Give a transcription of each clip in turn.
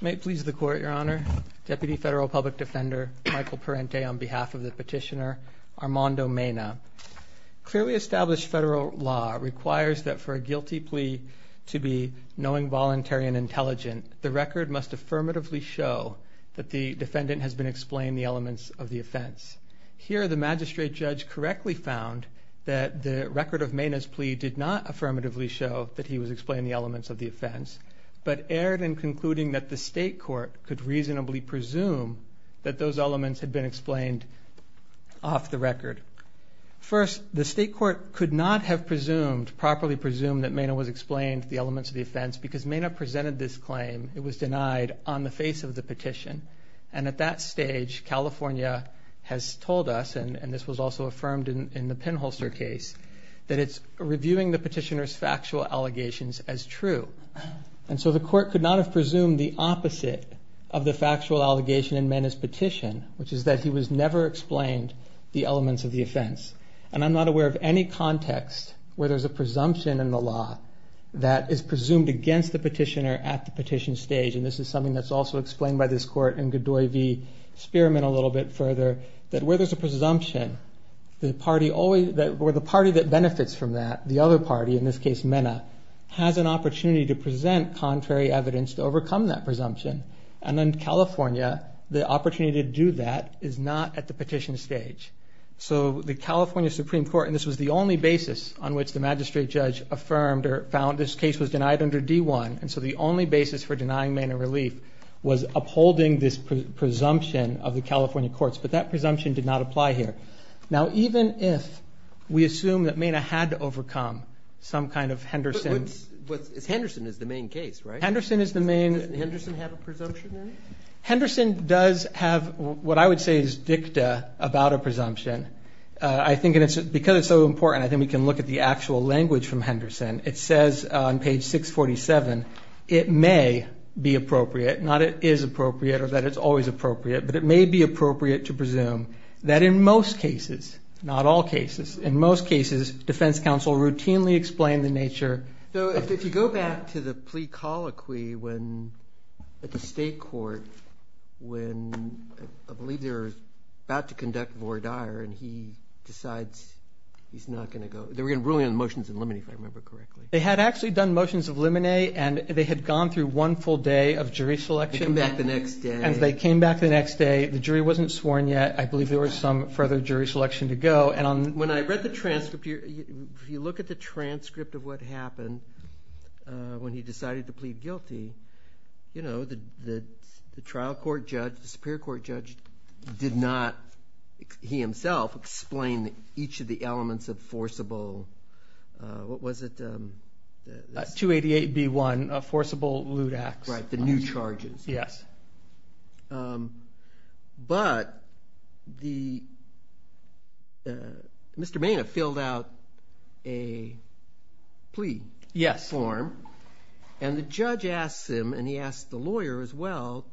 May it please the Court, Your Honor. Deputy Federal Public Defender Michael Parente on behalf of the petitioner Armando Mena. Clearly established federal law requires that for a guilty plea to be knowing, voluntary, and intelligent, the record must affirmatively show that the defendant has been explained the elements of the offense. Here, the magistrate judge correctly found that the record of Mena's plea did not affirmatively show that he was explained the elements of the offense, but erred in concluding that the state court could reasonably presume that those elements had been explained off the record. First, the state court could not have presumed, properly presumed, that Mena was explained the elements of the offense because Mena presented this claim. It was denied on the face of the petition. And at that stage, California has told us, and this was also affirmed in the pinholster case, that it's reviewing the petitioner's factual allegations as true. And so the court could not have presumed the opposite of the factual allegation in Mena's petition, which is that he was never explained the elements of the offense. And I'm not aware of any context where there's a presumption in the law that is presumed against the petitioner at the petition stage, and this is something that's also explained by this court in Godoy v. Spearman a little bit further, that where there's a presumption, the party that benefits from that, the other party, in this case Mena, has an opportunity to present contrary evidence to overcome that presumption. And in California, the opportunity to do that is not at the petition stage. So the California Supreme Court, and this was the only basis on which the magistrate judge affirmed or found this case was denied under D-1, and so the only basis for denying Mena relief was upholding this presumption of the California courts, but that presumption did not apply here. Now, even if we assume that Mena had to overcome some kind of Henderson. But Henderson is the main case, right? Henderson is the main. Doesn't Henderson have a presumption in it? Henderson does have what I would say is dicta about a presumption. I think because it's so important, I think we can look at the actual language from Henderson. It says on page 647, it may be appropriate, not it is appropriate or that it's always appropriate, but it may be appropriate to presume that in most cases, not all cases, in most cases defense counsel routinely explain the nature. So if you go back to the plea colloquy at the state court when I believe they were about to conduct and he decides he's not going to go. They were going to bring in motions of limine if I remember correctly. They had actually done motions of limine and they had gone through one full day of jury selection. They came back the next day. And they came back the next day. The jury wasn't sworn yet. I believe there was some further jury selection to go. And when I read the transcript, if you look at the transcript of what happened when he decided to plead guilty, the trial court judge, the superior court judge did not, he himself, explain each of the elements of forcible, what was it? 288B1, a forcible lewd act. Yes. But Mr. Maina filled out a plea form. Yes. And the judge asks him and he asks the lawyer as well,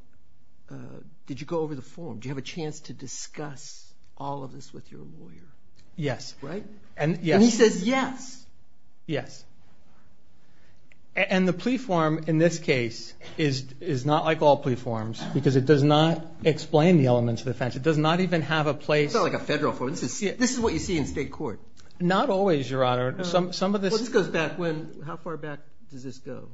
did you go over the form? Do you have a chance to discuss all of this with your lawyer? Yes. Right? And he says yes. Yes. And the plea form in this case is not like all plea forms because it does not explain the elements of offense. It does not even have a place. It's not like a federal form. This is what you see in state court. Not always, Your Honor. Some of this goes back when, how far back does this go?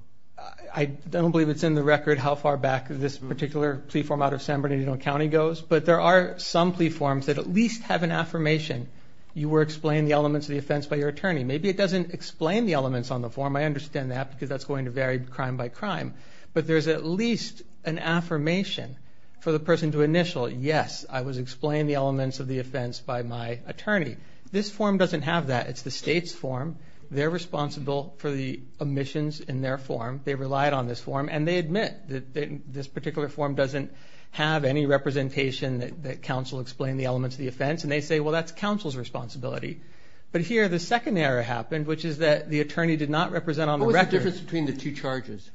I don't believe it's in the record how far back this particular plea form out of San Bernardino County goes. But there are some plea forms that at least have an affirmation. You were explained the elements of the offense by your attorney. Maybe it doesn't explain the elements on the form. I understand that because that's going to vary crime by crime. But there's at least an affirmation for the person to initial. Yes, I was explained the elements of the offense by my attorney. This form doesn't have that. It's the state's form. They're responsible for the omissions in their form. They relied on this form and they admit that this particular form doesn't have any representation that counsel explained the elements of the offense. And they say, well, that's counsel's responsibility. But here the second error happened, which is that the attorney did not represent on the record. What was the difference between the two charges?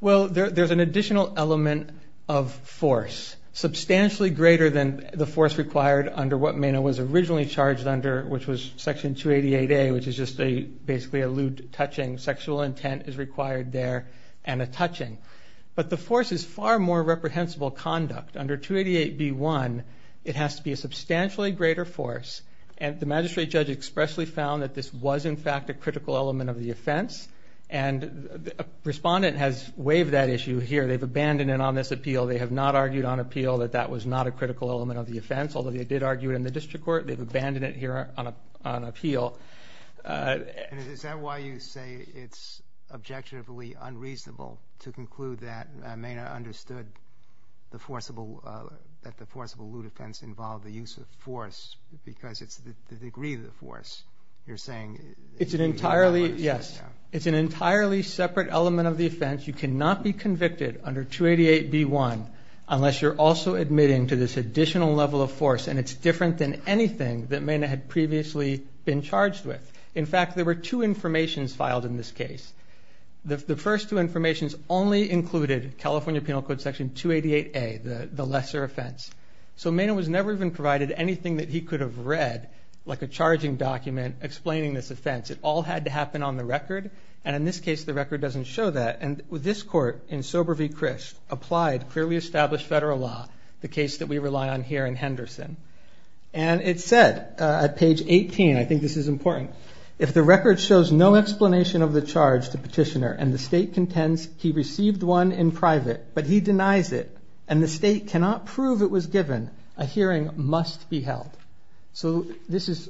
Well, there's an additional element of force, substantially greater than the force required under what Mena was originally charged under, which was Section 288A, which is just basically a lewd touching. Sexual intent is required there and a touching. But the force is far more reprehensible conduct. Under 288B1, it has to be a substantially greater force. And the magistrate judge expressly found that this was, in fact, a critical element of the offense. And the respondent has waived that issue here. They've abandoned it on this appeal. They have not argued on appeal that that was not a critical element of the offense, although they did argue it in the district court. They've abandoned it here on appeal. Is that why you say it's objectively unreasonable to conclude that Mena understood the forcible lewd offense involved the use of force because it's the degree of the force you're saying? It's an entirely separate element of the offense. You cannot be convicted under 288B1 unless you're also admitting to this additional level of force, and it's different than anything that Mena had previously been charged with. In fact, there were two informations filed in this case. The first two informations only included California Penal Code Section 288A, the lesser offense. So Mena was never even provided anything that he could have read, like a charging document, explaining this offense. It all had to happen on the record, and in this case the record doesn't show that. And this court in Sober v. Christ applied clearly established federal law, the case that we rely on here in Henderson. And it said at page 18, I think this is important, if the record shows no explanation of the charge to petitioner and the state contends he received one in private but he denies it and the state cannot prove it was given, a hearing must be held. So this is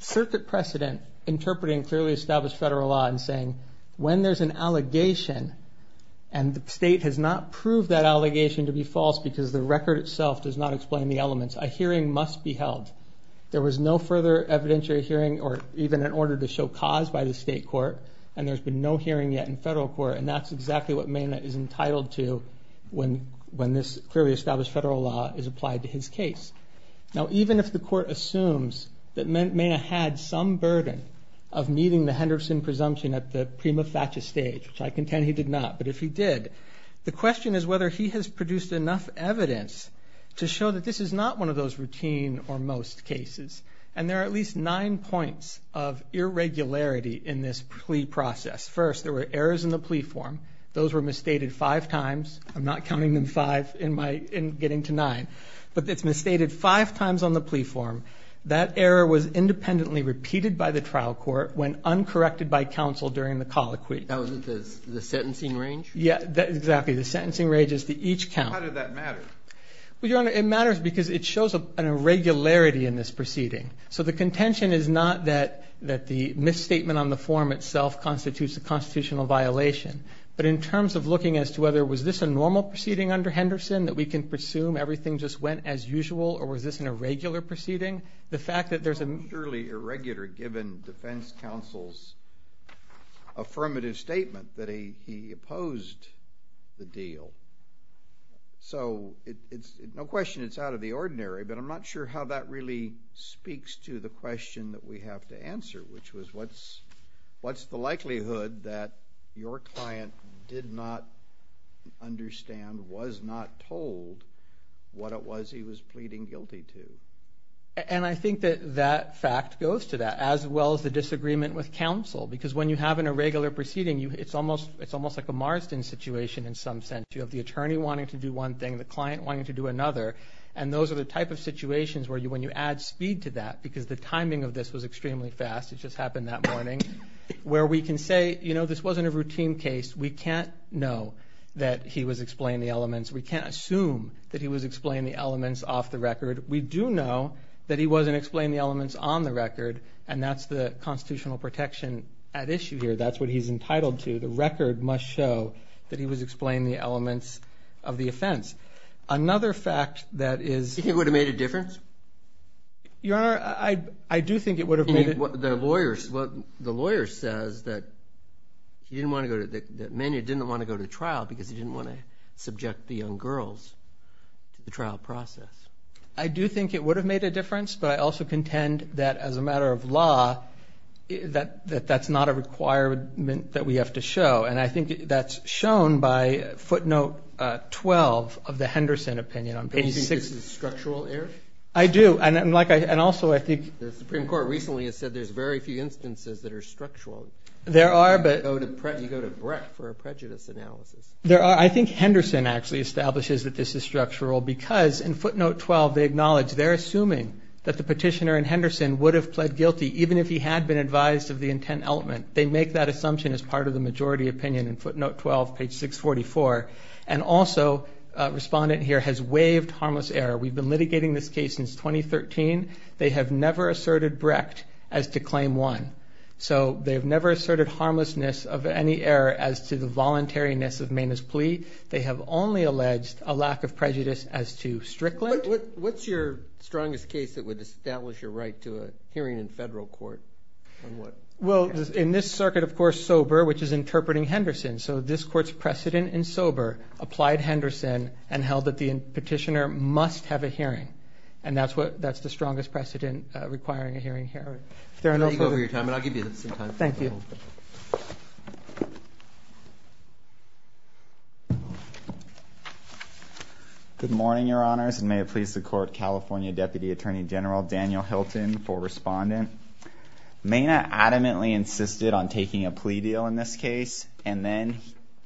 circuit precedent interpreting clearly established federal law and saying when there's an allegation and the state has not proved that allegation to be false because the record itself does not explain the elements, a hearing must be held. There was no further evidentiary hearing or even an order to show cause by the state court and there's been no hearing yet in federal court and that's exactly what Mena is entitled to when this clearly established federal law is applied to his case. Now even if the court assumes that Mena had some burden of meeting the Henderson presumption at the prima facie stage, which I contend he did not, but if he did, the question is whether he has produced enough evidence to show that this is not one of those routine or most cases. And there are at least nine points of irregularity in this plea process. First, there were errors in the plea form. Those were misstated five times. I'm not counting them five and getting to nine. But it's misstated five times on the plea form. That error was independently repeated by the trial court when uncorrected by counsel during the colloquy. That wasn't the sentencing range? Yeah, exactly. The sentencing range is the each count. How did that matter? Well, Your Honor, it matters because it shows an irregularity in this proceeding. So the contention is not that the misstatement on the form itself constitutes a constitutional violation. But in terms of looking as to whether was this a normal proceeding under Henderson that we can presume everything just went as usual or was this an irregular proceeding, the fact that there's a Surely irregular given defense counsel's affirmative statement that he opposed the deal. So no question it's out of the ordinary, but I'm not sure how that really speaks to the question that we have to answer, which was what's the likelihood that your client did not understand, was not told what it was he was pleading guilty to? And I think that that fact goes to that, as well as the disagreement with counsel. Because when you have an irregular proceeding, it's almost like a Marsden situation in some sense. You have the attorney wanting to do one thing, the client wanting to do another, and those are the type of situations where when you add speed to that, because the timing of this was extremely fast, it just happened that morning, where we can say, you know, this wasn't a routine case. We can't know that he was explaining the elements. We can't assume that he was explaining the elements off the record. We do know that he wasn't explaining the elements on the record, and that's the constitutional protection at issue here. That's what he's entitled to. The record must show that he was explaining the elements of the offense. Another fact that is Do you think it would have made a difference? Your Honor, I do think it would have made a difference. The lawyer says that Manny didn't want to go to trial because he didn't want to subject the young girls to the trial process. I do think it would have made a difference, but I also contend that as a matter of law, that that's not a requirement that we have to show, and I think that's shown by footnote 12 of the Henderson opinion on page 6. Do you think this is structural error? I do, and also I think the Supreme Court recently has said there's very few instances that are structural. There are, but You go to Breck for a prejudice analysis. There are. I think Henderson actually establishes that this is structural because in footnote 12 they acknowledge they're assuming that the petitioner in Henderson would have pled guilty even if he had been advised of the intent element. They make that assumption as part of the majority opinion in footnote 12, page 644, and also a respondent here has waived harmless error. We've been litigating this case since 2013. They have never asserted Brecht as to claim one, so they've never asserted harmlessness of any error as to the voluntariness of Maina's plea. They have only alleged a lack of prejudice as to Strickland. What's your strongest case that would establish your right to a hearing in federal court? Well, in this circuit, of course, Sober, which is interpreting Henderson, so this court's precedent in Sober applied Henderson and held that the petitioner must have a hearing, and that's the strongest precedent requiring a hearing here. I'll let you go over your time, and I'll give you some time. Thank you. Good morning, Your Honors, and may it please the Court, California Deputy Attorney General Daniel Hilton for respondent. Maina adamantly insisted on taking a plea deal in this case, and then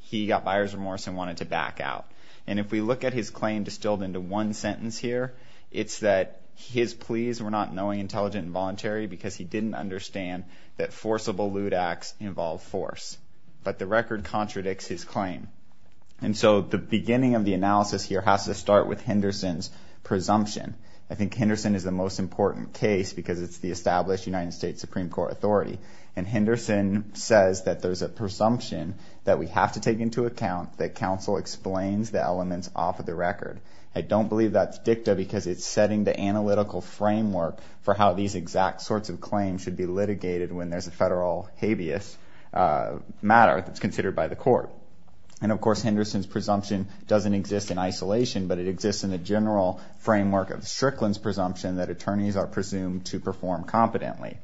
he got buyer's remorse and wanted to back out. And if we look at his claim distilled into one sentence here, it's that his pleas were not knowing, intelligent, and voluntary because he didn't understand that forcible lewd acts involve force. But the record contradicts his claim. And so the beginning of the analysis here has to start with Henderson's presumption. I think Henderson is the most important case because it's the established United States Supreme Court authority, and Henderson says that there's a presumption that we have to take into account, that counsel explains the elements off of the record. I don't believe that's dicta because it's setting the analytical framework for how these exact sorts of claims should be litigated when there's a federal habeas matter that's considered by the court. And, of course, Henderson's presumption doesn't exist in isolation, but it exists in the general framework of Strickland's presumption that attorneys are presumed to perform competently.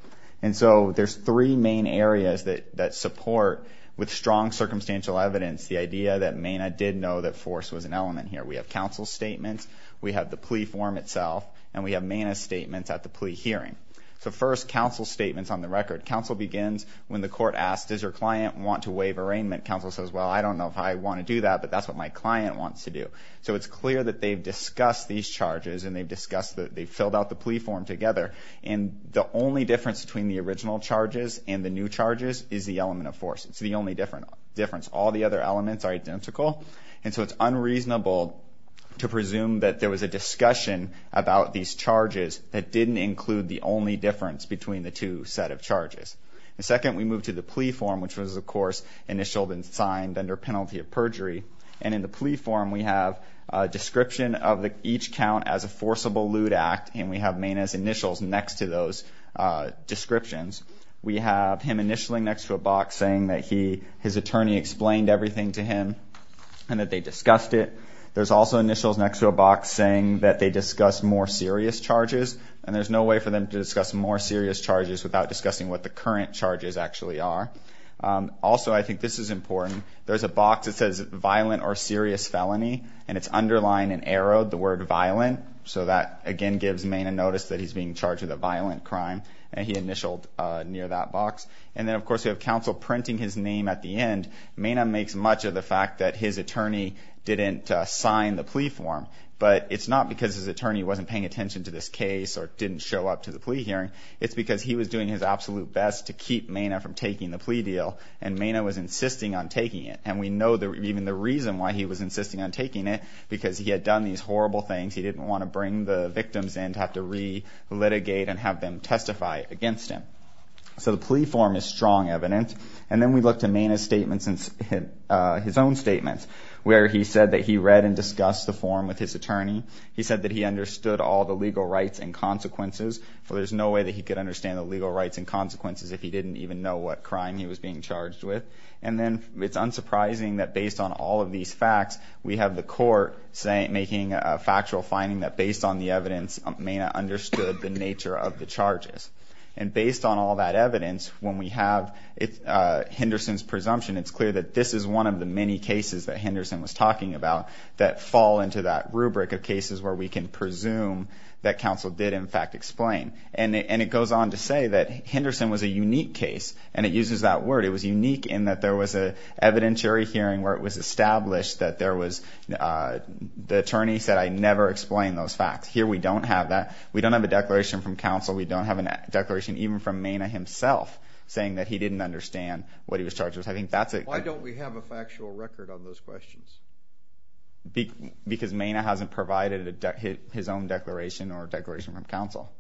And so there's three main areas that support, with strong circumstantial evidence, the idea that Maina did know that force was an element here. We have counsel's statements, we have the plea form itself, and we have Maina's statements at the plea hearing. So first, counsel's statements on the record. Counsel begins when the court asks, does your client want to waive arraignment? Counsel says, well, I don't know if I want to do that, but that's what my client wants to do. So it's clear that they've discussed these charges and they've filled out the plea form together, and the only difference between the original charges and the new charges is the element of force. It's the only difference. All the other elements are identical. And so it's unreasonable to presume that there was a discussion about these charges that didn't include the only difference between the two set of charges. And second, we move to the plea form, which was, of course, initialed and signed under penalty of perjury. And in the plea form, we have a description of each count as a forcible lewd act, and we have Maina's initials next to those descriptions. We have him initialing next to a box saying that his attorney explained everything to him and that they discussed it. There's also initials next to a box saying that they discussed more serious charges, and there's no way for them to discuss more serious charges without discussing what the current charges actually are. Also, I think this is important. There's a box that says violent or serious felony, and it's underlined and arrowed the word violent. So that, again, gives Maina notice that he's being charged with a violent crime, and he initialed near that box. And then, of course, we have counsel printing his name at the end. Maina makes much of the fact that his attorney didn't sign the plea form, but it's not because his attorney wasn't paying attention to this case or didn't show up to the plea hearing. It's because he was doing his absolute best to keep Maina from taking the plea deal, and Maina was insisting on taking it. And we know even the reason why he was insisting on taking it, because he had done these horrible things. He didn't want to bring the victims in to have to re-litigate and have them testify against him. So the plea form is strong evidence. And then we look to Maina's statements and his own statements, where he said that he read and discussed the form with his attorney. He said that he understood all the legal rights and consequences, for there's no way that he could understand the legal rights and consequences if he didn't even know what crime he was being charged with. And then it's unsurprising that based on all of these facts, we have the court making a factual finding that based on the evidence, Maina understood the nature of the charges. And based on all that evidence, when we have Henderson's presumption, it's clear that this is one of the many cases that Henderson was talking about that fall into that rubric of cases where we can presume that counsel did, in fact, explain. And it goes on to say that Henderson was a unique case, and it uses that word. It was unique in that there was an evidentiary hearing where it was established that there was—the attorney said, I never explained those facts. Here we don't have that. We don't have a declaration from counsel. We don't have a declaration even from Maina himself saying that he didn't understand what he was charged with. I think that's a— Why don't we have a factual record on those questions? Because Maina hasn't provided his own declaration or a declaration from counsel.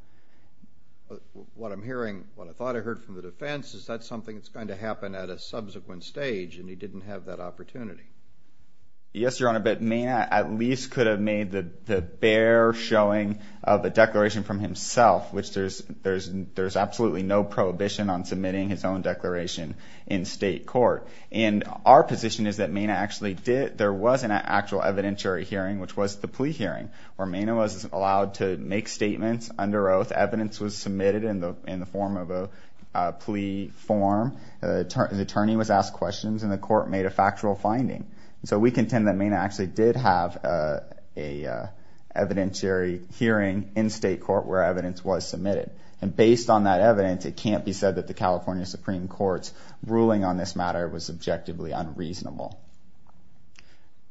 What I'm hearing, what I thought I heard from the defense, is that's something that's going to happen at a subsequent stage, and he didn't have that opportunity. Yes, Your Honor, but Maina at least could have made the bare showing of a declaration from himself, which there's absolutely no prohibition on submitting his own declaration in state court. And our position is that Maina actually did— there was an actual evidentiary hearing, which was the plea hearing, where Maina was allowed to make statements under oath. Evidence was submitted in the form of a plea form. The attorney was asked questions, and the court made a factual finding. So we contend that Maina actually did have an evidentiary hearing in state court where evidence was submitted. And based on that evidence, it can't be said that the California Supreme Court's ruling on this matter was objectively unreasonable.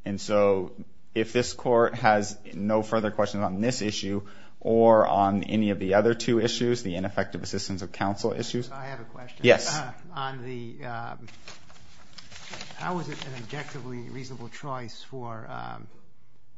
And so if this court has no further questions on this issue or on any of the other two issues, the ineffective assistance of counsel issues— On the—how was it an objectively reasonable choice for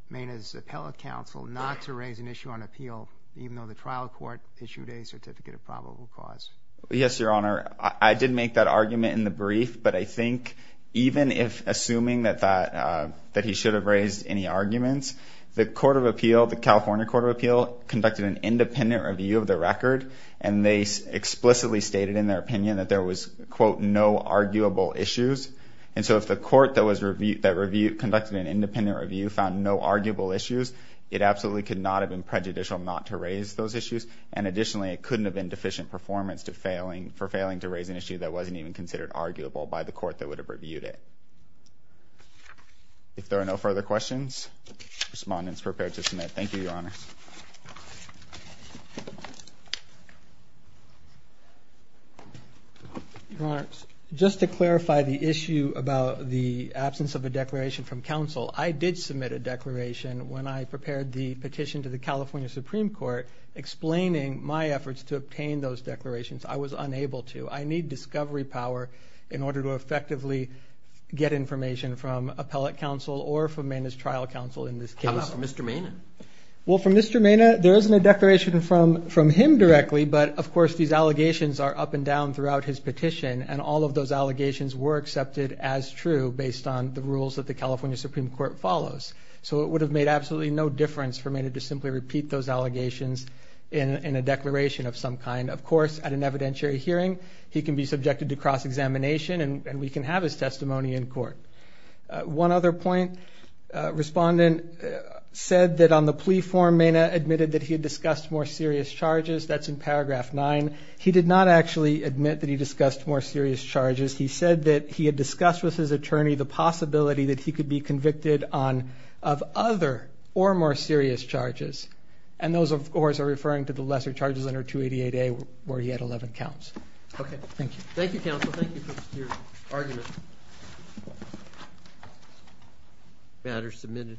Maina's appellate counsel not to raise an issue on appeal, even though the trial court issued a certificate of probable cause? Yes, Your Honor, I did make that argument in the brief, but I think even if—assuming that he should have raised any arguments, the court of appeal, the California court of appeal, conducted an independent review of the record, and they explicitly stated in their opinion that there was, quote, no arguable issues. And so if the court that was—that reviewed—conducted an independent review found no arguable issues, it absolutely could not have been prejudicial not to raise those issues. And additionally, it couldn't have been deficient performance to failing—for failing to raise an issue that wasn't even considered arguable by the court that would have reviewed it. If there are no further questions, respondents, prepare to submit. Thank you, Your Honor. Your Honor, just to clarify the issue about the absence of a declaration from counsel, I did submit a declaration when I prepared the petition to the California Supreme Court explaining my efforts to obtain those declarations. I was unable to. I need discovery power in order to effectively get information from appellate counsel or from Maina's trial counsel in this case. How about from Mr. Maina? Well, from Mr. Maina, there isn't a declaration from him directly, but, of course, these allegations are up and down throughout his petition, and all of those allegations were accepted as true based on the rules that the California Supreme Court follows. So it would have made absolutely no difference for Maina to simply repeat those allegations in a declaration of some kind. Of course, at an evidentiary hearing, he can be subjected to cross-examination, and we can have his testimony in court. One other point. Respondent said that on the plea form, Maina admitted that he had discussed more serious charges. That's in paragraph 9. He did not actually admit that he discussed more serious charges. He said that he had discussed with his attorney the possibility that he could be convicted of other or more serious charges, and those, of course, are referring to the lesser charges under 288A where he had 11 counts. Okay. Thank you. Thank you, counsel. Thank you for your argument. The matter is submitted.